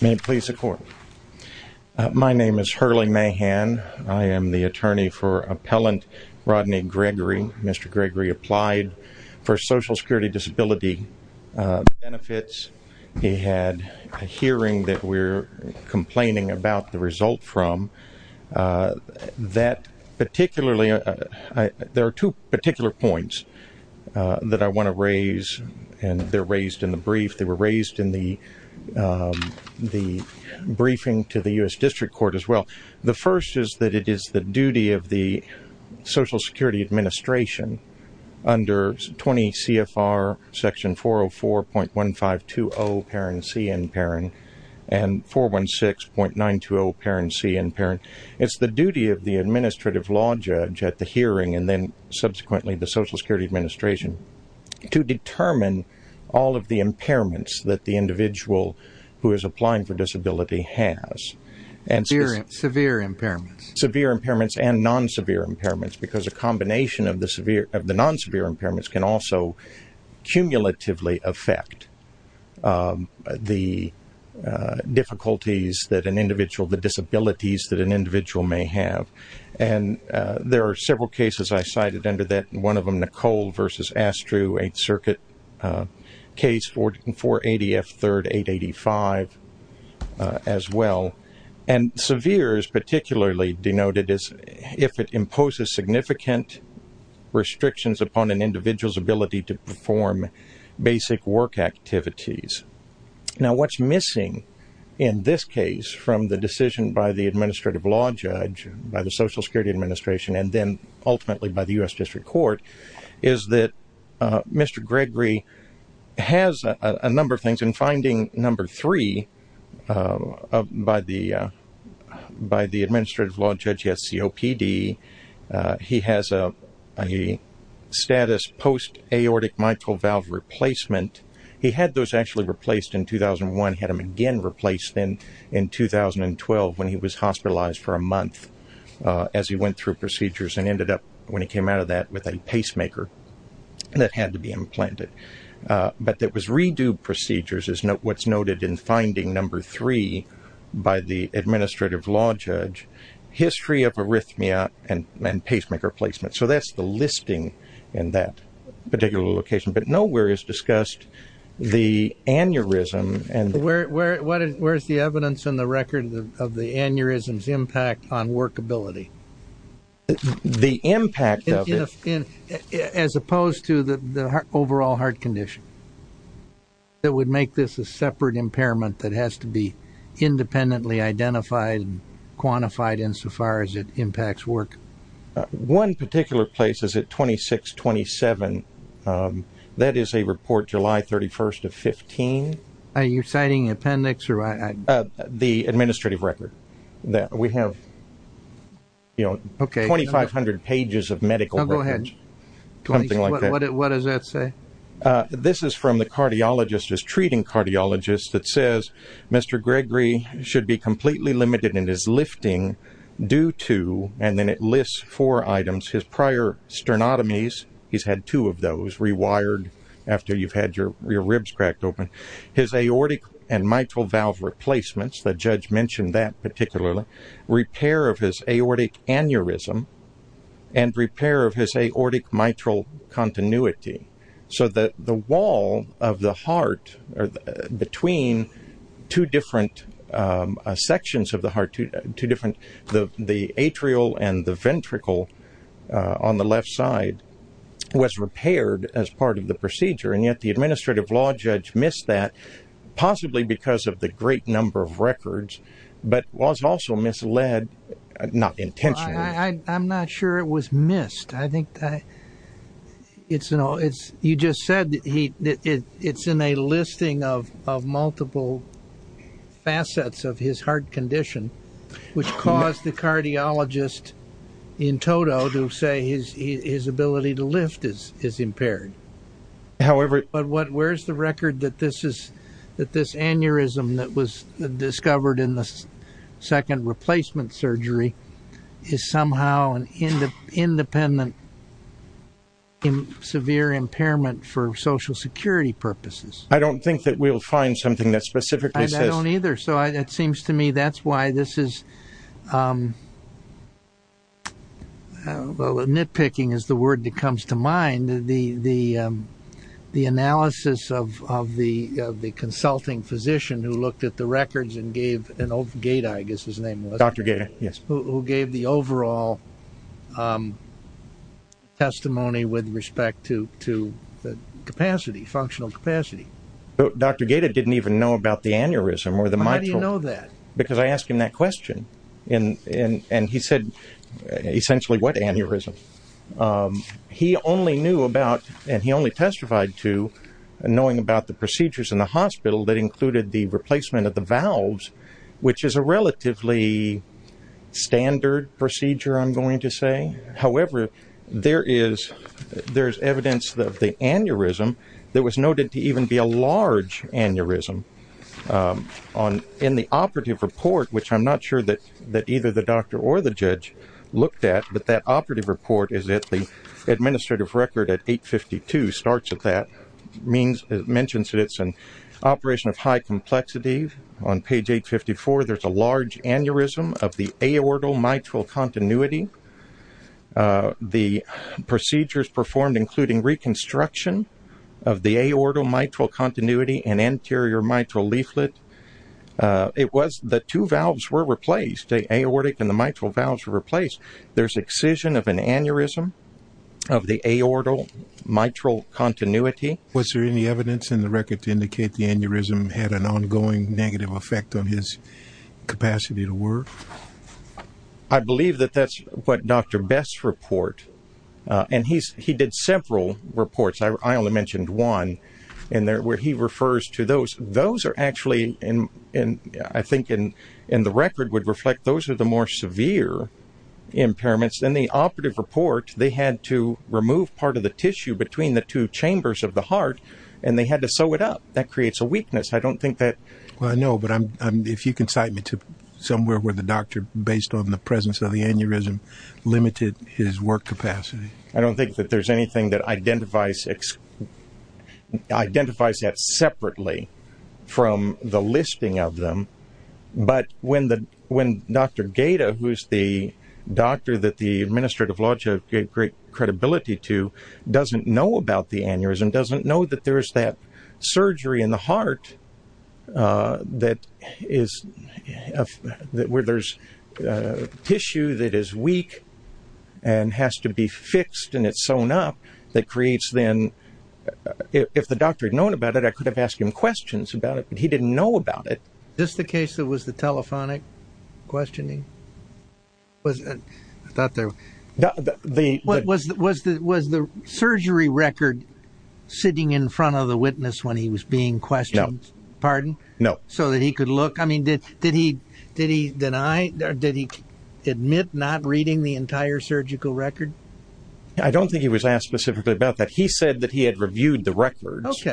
May it please the Court. My name is Hurley Mahan. I am the attorney for Appellant Rodney Gregory. Mr. Gregory applied for Social Security disability benefits. He had a hearing that we're complaining about the result from. That particularly, there are two particular points that I want to raise and they're raised in the brief. They were raised in the briefing to the U.S. District Court as well. The first is that it is the duty of the Social Security Administration under 20 CFR section 404.1520 and 416.920. It's the duty of the administrative law judge at the hearing and then subsequently the Social Security Administration to determine all of the impairments that the individual who is applying for disability has. Severe impairments and non-severe impairments because a combination of the non-severe impairments can also cumulatively affect the difficulties that an individual, the disabilities that an individual may have. There are several cases I cited under that. One of them Nicole versus Astru, 8th Circuit case 480F3 885 as well. And severe is particularly denoted as if it imposes significant restrictions upon an individual's ability to perform basic work activities. Now what's missing in this case from the decision by the administrative law judge, by the Social Security Administration and then ultimately by the U.S. District Court is that Mr. Gregory has a number of things. In finding number three by the administrative law judge at COPD, he has a status post-aortic mitral valve replacement. He had those actually replaced in 2001. He had them again replaced in 2012 when he was hospitalized for a month as he went through procedures and ended up when he came out of that with a pacemaker that had to be implanted. But that was redo procedures is what's noted in finding number three by the administrative law judge, history of arrhythmia and pacemaker placement. So that's the listing in that particular location. But nowhere is discussed the aneurysm. Where's the evidence in the record of the aneurysm's impact on workability? The impact of it. As opposed to the overall heart condition. That would make this a separate impairment that has to be independently identified and quantified insofar as it impacts work. One particular place is at 2627. That is a report July 31st of 15. Are you citing appendix? The administrative record. We have 2,500 pages of medical records. What does that say? This is from the cardiologist, his treating cardiologist that says Mr. Gregory should be four items, his prior sternotomies. He's had two of those rewired after you've had your ribs cracked open. His aortic and mitral valve replacements. The judge mentioned that particularly. Repair of his aortic aneurysm and repair of his aortic mitral continuity. So that the wall of the heart between two different sections of the heart, two different, the atrial and the ventricle on the left side was repaired as part of the procedure. And yet the administrative law judge missed that possibly because of the great number of records, but was also misled not intentionally. I'm not sure it was missed. I think that it's, you just said that it's in a listing of multiple facets of his heart condition, which caused the cardiologist in total to say his, his ability to lift is, is impaired. However, but what, where's the record that this is that this aneurysm that was discovered in the second replacement surgery is somehow an independent, severe impairment for social security purposes. I don't think that we'll find something that specifically says. I don't either. So I, it seems to me that's why this is, well, nitpicking is the word that comes to mind. The, the, the analysis of, of the, of the consulting physician who looked at the records and gave an old gate, I guess his name was Dr. Gator, who gave the overall testimony with respect to, to the capacity, functional capacity. But Dr. Gator didn't even know about the aneurysm or the mitral. How do you know that? Because I asked him that question and, and, and he said essentially what aneurysm. He only knew about, and he only testified to knowing about the procedures in the hospital that included the replacement of the valves, which is a relatively standard procedure. I'm going to say, however, there is, there's evidence that the aneurysm that was noted to even be a large aneurysm on in the operative report, which I'm not sure that, that either the doctor or the judge looked at, but that operative report is that the administrative record at eight 52 starts at that means it mentions that it's an operation of high complexity on page eight 54. There's a large aneurysm of the aorta mitral continuity. The procedures performed, including reconstruction of the aorta mitral continuity and anterior mitral leaflet. It was the two valves were replaced aortic and the mitral valves were replaced. There's excision of an aneurysm of the aorta mitral continuity. Was there any evidence in the record to indicate the aneurysm had an ongoing negative effect on his capacity to work? I believe that that's what Dr. Best report. And he's, he did several reports. I only mentioned one in there where he refers to those. Those are actually in, in, I think in, in the record would reflect those are the more severe impairments than the operative report. They had to remove part of the tissue between the two chambers of the heart and they had to sew it up. That creates a weakness. I don't think that. Well, I know, but I'm, if you can cite me to somewhere where the doctor based on the presence of the aneurysm limited his work capacity. I don't think that there's anything that identifies, identifies that separately from the listing of them. But when the, when Dr. Gata, who's the doctor that the administrative logic gave great credibility to doesn't know about the aneurysm, doesn't know that there's that surgery in the heart that is where there's a tissue that is weak and has to be fixed and it's sewn up that creates then if the doctor had known about it, I could have asked him questions about it, but he didn't know about it. This, the case that was the telephonic questioning was, I thought there was the surgery record sitting in front of the witness when he was being questioned. Pardon? No. So that he could look, I mean, did, did he, did he deny or did he admit not reading the entire surgical record? I don't think he was asked specifically about that. He said that he had reviewed the records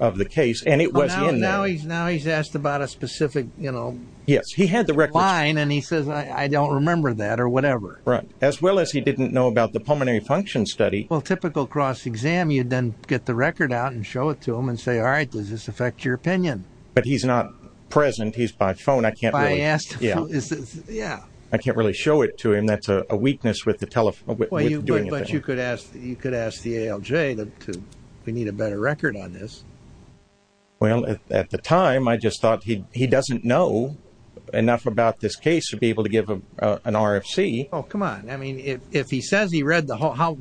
of the case and it was now he's now he's asked about a specific, you know, yes, he had the record line and he says, I don't remember that or whatever. Right. As well as he didn't know about the pulmonary function study. Well, typical cross exam, you'd then get the record out and show it to him and say, all right, does this affect your opinion? But he's not present. He's by phone. I can't really ask. Yeah. Yeah. I can't really show it to him. That's a weakness with the telephone, but you could ask, you could ask the ALJ to, we need a better record on this. Well, at the time I just thought he, he doesn't know enough about this case to be able to give him an RFC. Oh, come on. I mean, if, if he says he read the whole, how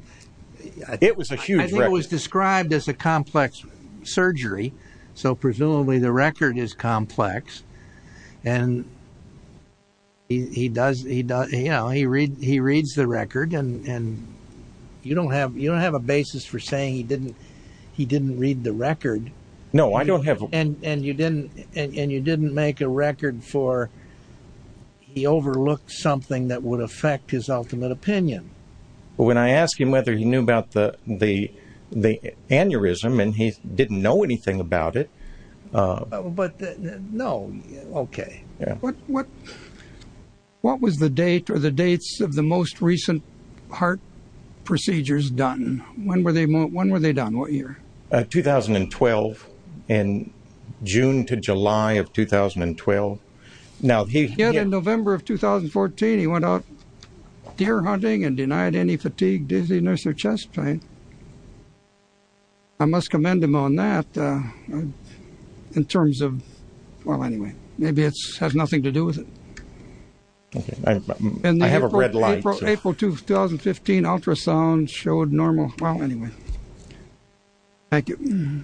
it was a huge, it was described as a complex surgery. So presumably the record is complex and he does, he does, you know, he read, he reads the record and, and you don't have, you don't have a basis for saying he didn't, he didn't read the record. No, I don't have. And, and you didn't, and you didn't make a record for, he overlooked something that would affect his ultimate opinion. But when I asked him whether he knew about the, the, the aneurysm and he didn't know anything about it. But no, okay. Yeah. What, what, what was the date or the dates of the most recent heart procedures done? When were they, when were they done? What year? 2012, in June to July of 2012. Now he. Yet in November of 2014, he went out deer hunting and denied any fatigue, dizziness or chest pain. I must commend him on that. In terms of, well, anyway, maybe it has nothing to do with it. Okay. I have a red light. April 2, 2015 ultrasound showed normal. Well, anyway. Thank you.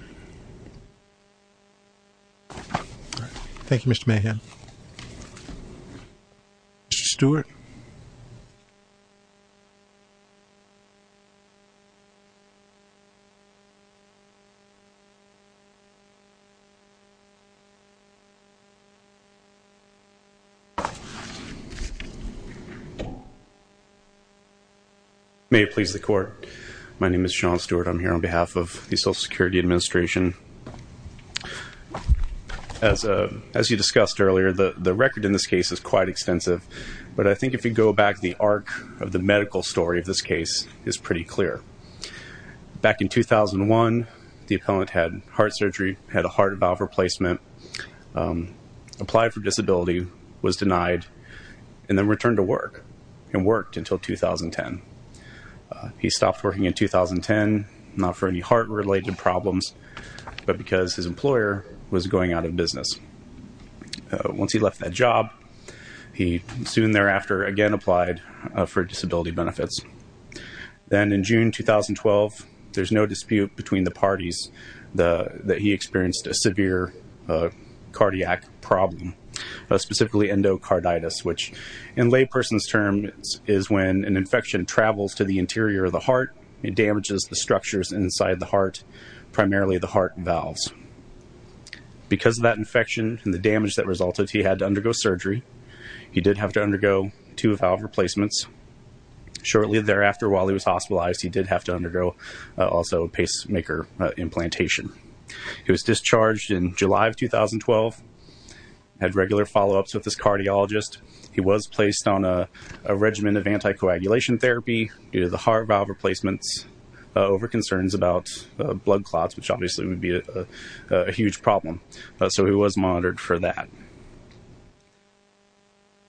Thank you, Mr. Mayhem. Mr. Stewart. May it please the court. My name is Sean Stewart. I'm here on behalf of the social security administration. As a, as you discussed earlier, the, the record in this case is quite extensive, but I think if you go back, the arc of the medical story of this case is pretty clear. Back in 2001, the appellant had heart surgery, had a heart valve replacement, um, applied for disability was denied and then returned to work and worked until 2010. He stopped working in 2010, not for any heart related problems, but because his employer was going out of business. Once he left that job, he soon thereafter again applied for disability benefits. Then in June, 2012, there's no dispute between the parties. The, that he experienced a severe cardiac problem, specifically endocarditis, which in lay person's terms is when an infection travels to the interior of the heart. It damages the structures inside the heart, primarily the heart valves. Because of that infection and the damage that resulted, he had to undergo surgery. He did have to undergo two valve replacements. Shortly thereafter, while he was hospitalized, he did have to undergo also pacemaker implantation. He was discharged in July of 2012, had regular followups with his cardiologist. He was placed on a regimen of anticoagulation therapy due to the heart valve replacements over concerns about blood clots, which obviously would be a huge problem. So he was monitored for that.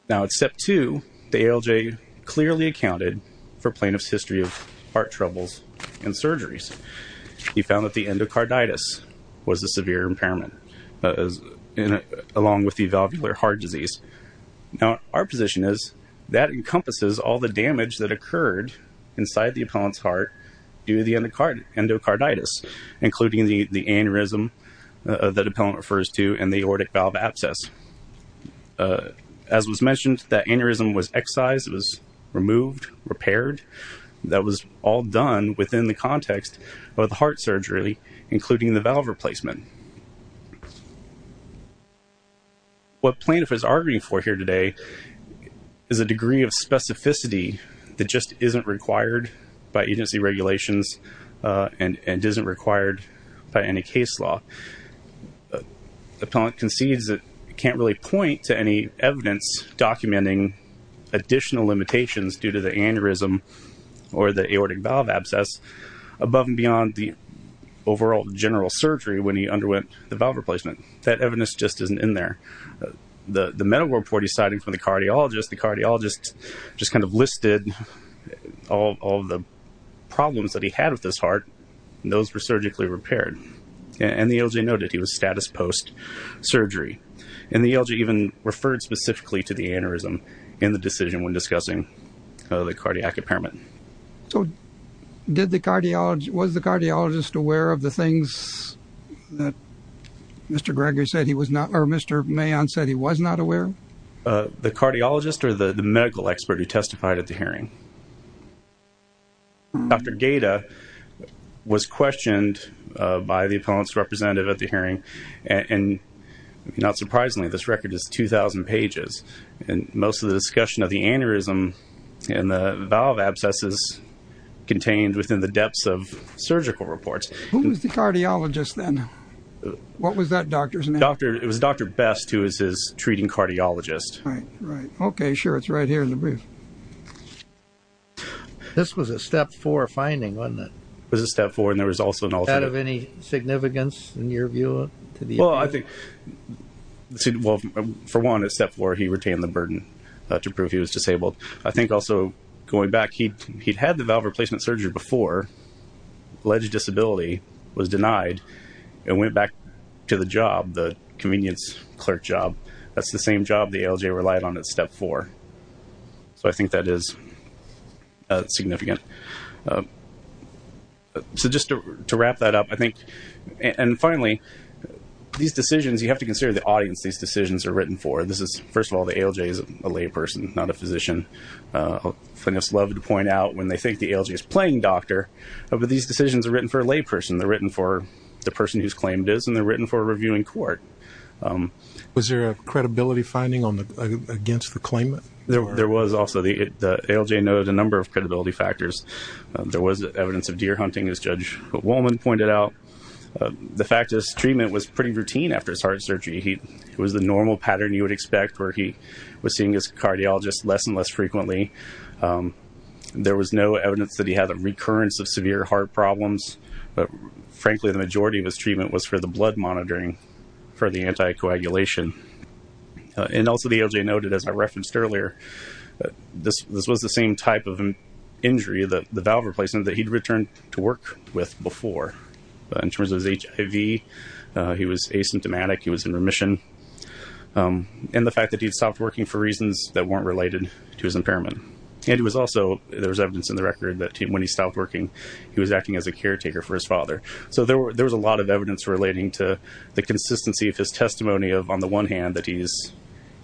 Now at step two, the ALJ clearly accounted for plaintiff's history of heart troubles and surgeries. He found that the endocarditis was a severe impairment, along with the valvular heart disease. Now our position is that encompasses all the damage that occurred inside the appellant's heart due to the endocarditis, including the aneurysm that appellant refers to and the aortic valve abscess. As was mentioned, that aneurysm was excised. It was removed, repaired. That was all done within the context of the heart surgery, including the valve replacement. What plaintiff is arguing for here today is a degree of specificity that just isn't required by agency regulations and isn't required by any case law. Appellant concedes that it can't really point to any evidence documenting additional limitations due to the aneurysm or the aortic valve abscess above and beyond the overall general surgery when he underwent the valve replacement. That evidence just isn't in there. The medical report he's citing from the cardiologist, the cardiologist just kind of listed all the problems that he had with his heart, and those were surgically repaired. And the ALJ noted he was status post-surgery. And the ALJ even referred specifically to the aneurysm in the decision when discussing the cardiac impairment. So did the cardiologist, was the cardiologist aware of the things that Mr. Gregory said he was not, or Mr. Mayon said he was not aware? The cardiologist or the medical expert who testified at the hearing? Dr. Gaeta was questioned by the appellant's representative at the hearing. And not surprisingly, this record is 2,000 pages. And most of the discussion of the aneurysm and the valve abscesses contained within the depths of surgical reports. Who was the cardiologist then? What was that doctor's name? It was Dr. Best, who was his treating cardiologist. Okay, sure. It's right here in the brief. This was a Step 4 finding, wasn't it? It was a Step 4, and there was also an alternative. Out of any significance in your view to the appeal? Well, I think, for one, at Step 4, he retained the burden to prove he was disabled. I think also going back, he'd had the valve replacement surgery before, alleged disability, was denied, and went back to the job, the convenience clerk job. That's the same job the ALJ relied on at Step 4. So I think that is significant. So just to wrap that up, I think, and finally, these decisions, you have to consider the audience these decisions are written for. This is, first of all, the ALJ is a layperson, not a physician. Clinics love to point out when they think the ALJ is playing doctor, but these decisions are written for a layperson. They're written for the person who's claimed it, and they're written for a reviewing court. Was there a credibility finding against the claimant? There was also. The ALJ noted a number of credibility factors. There was evidence of deer hunting, as Judge Woolman pointed out. The fact is, treatment was pretty routine after his heart surgery. It was the normal pattern you would expect, where he was seeing his cardiologist less and less frequently. There was no evidence that he had a recurrence of severe heart problems, but frankly, the majority of his treatment was for the blood monitoring. For the anticoagulation. And also, the ALJ noted, as I referenced earlier, this was the same type of injury, the valve replacement, that he'd returned to work with before. In terms of his HIV, he was asymptomatic. He was in remission. And the fact that he'd stopped working for reasons that weren't related to his impairment. And it was also, there was evidence in the record that when he stopped working, he was acting as a caretaker for his father. So there was a lot of evidence relating to the consistency of his testimony of, on the one hand, that he's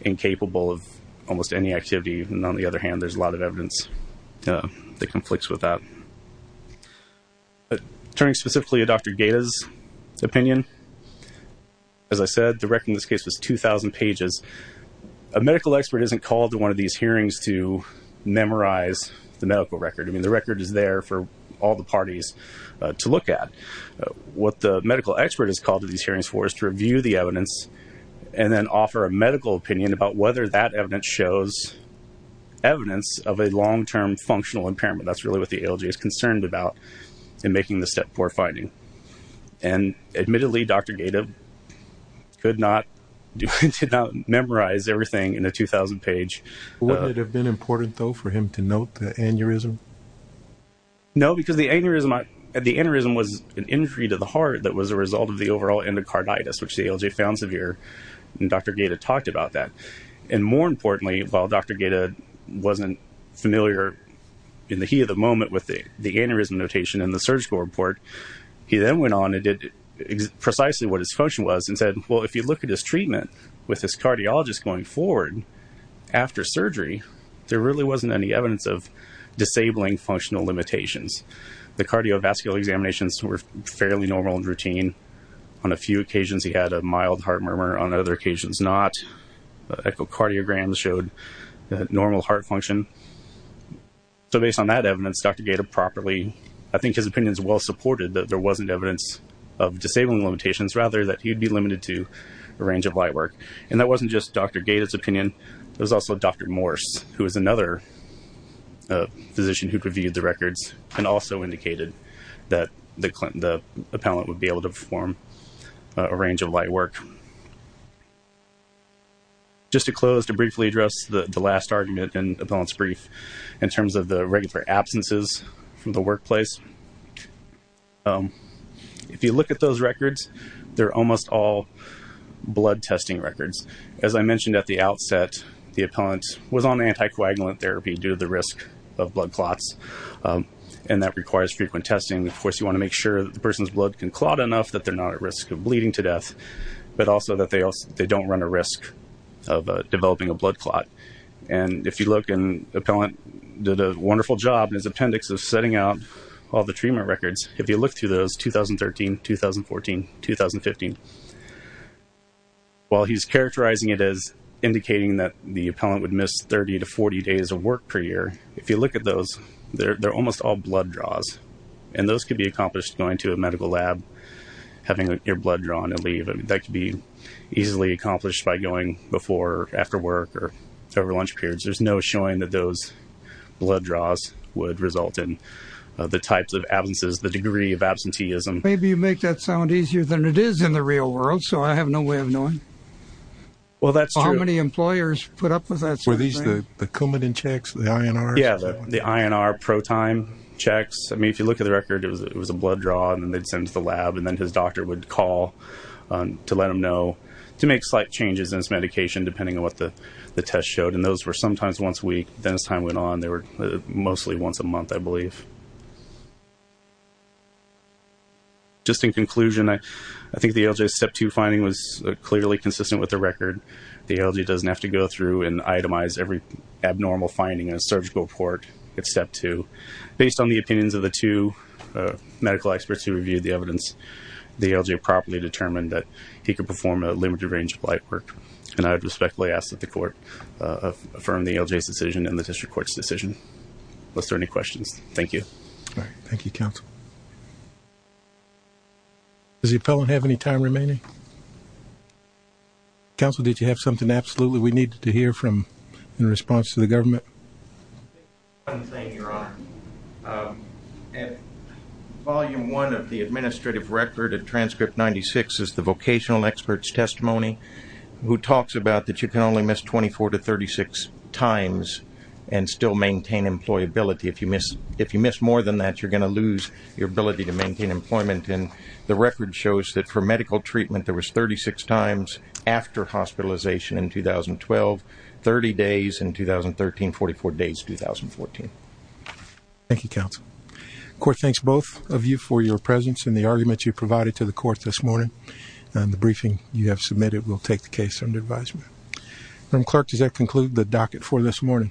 incapable of almost any activity, and on the other hand, there's a lot of evidence that conflicts with that. Turning specifically to Dr. Gaeta's opinion. As I said, the record in this case was 2,000 pages. A medical expert isn't called to one of these hearings to memorize the medical record. I mean, the record is there for all the parties to look at. What the medical expert is called to these hearings for is to review the evidence and then offer a medical opinion about whether that evidence shows evidence of a long-term functional impairment. That's really what the ALG is concerned about in making the step 4 finding. And admittedly, Dr. Gaeta could not memorize everything in a 2,000 page. But wouldn't it have been important, though, for him to note the aneurysm? No, because the aneurysm was an injury to the heart that was a result of the overall endocarditis, which the ALG found severe, and Dr. Gaeta talked about that. And more importantly, while Dr. Gaeta wasn't familiar in the heat of the moment with the aneurysm notation in the surgical report, he then went on and did precisely what his quotient was and said, well, if you look at his treatment with his cardiologist going forward, after surgery, there really wasn't any evidence of disabling functional limitations. The cardiovascular examinations were fairly normal and routine. On a few occasions, he had a mild heart murmur. On other occasions, not. Echocardiograms showed normal heart function. So based on that evidence, Dr. Gaeta properly, I think his opinions well supported that there wasn't evidence of disabling limitations, rather that he'd be limited to a range of light work. And that wasn't just Dr. Gaeta's opinion. There was also Dr. Morse, who was another physician who reviewed the records and also indicated that the appellant would be able to perform a range of light work. Just to close, to briefly address the last argument and appellant's brief in terms of the regular absences from the workplace, if you look at those records, they're almost all blood testing records. As I mentioned at the outset, the appellant was on anticoagulant therapy due to the risk of blood clots. And that requires frequent testing. Of course, you want to make sure that the person's blood can clot enough that they're not at risk of bleeding to death, but also that they don't run a risk of developing a blood clot. And if you look, the appellant did a wonderful job in his appendix of setting out all the treatment records. If you look through those, 2013, 2014, 2015, while he's characterizing it as indicating that the appellant would miss 30 to 40 days of work per year, if you look at those, they're almost all blood draws. And those could be accomplished going to a medical lab, having your blood drawn and leave. That could be easily accomplished by going before or after work or over lunch periods. There's no showing that those blood draws would result in the types of absences, the degree of absenteeism. Maybe you make that sound easier than it is in the real world. So I have no way of knowing. Well, that's true. How many employers put up with that? Were these the Coumadin checks, the INR? Yeah, the INR pro-time checks. I mean, if you look at the record, it was a blood draw, and then they'd send to the lab, and then his doctor would call to let him know to make slight changes in his medication, depending on what the test showed. And those were sometimes once a week. Then as time went on, they were mostly once a month, I believe. Just in conclusion, I think the ALJ's Step 2 finding was clearly consistent with the record. The ALJ doesn't have to go through and itemize every abnormal finding in a surgical report at Step 2. Based on the opinions of the two medical experts who reviewed the evidence, the ALJ properly determined that he could perform a limited range of light work. And I would respectfully ask that the court affirm the ALJ's decision and the district court's decision. Unless there are any questions. Thank you. All right. Thank you, counsel. Does the appellant have any time remaining? Counsel, did you have something absolutely we needed to hear from in response to the government? One thing, Your Honor. Volume 1 of the administrative record of Transcript 96 is the vocational expert's who talks about that you can only miss 24 to 36 times and still maintain employability. If you miss more than that, you're going to lose your ability to maintain employment. And the record shows that for medical treatment, there was 36 times after hospitalization in 2012, 30 days in 2013, 44 days in 2014. Thank you, counsel. The court thanks both of you for your presence and the argument you provided to the court this morning. The briefing you have submitted will take the case under advisement. Madam Clerk, does that conclude the docket for this morning?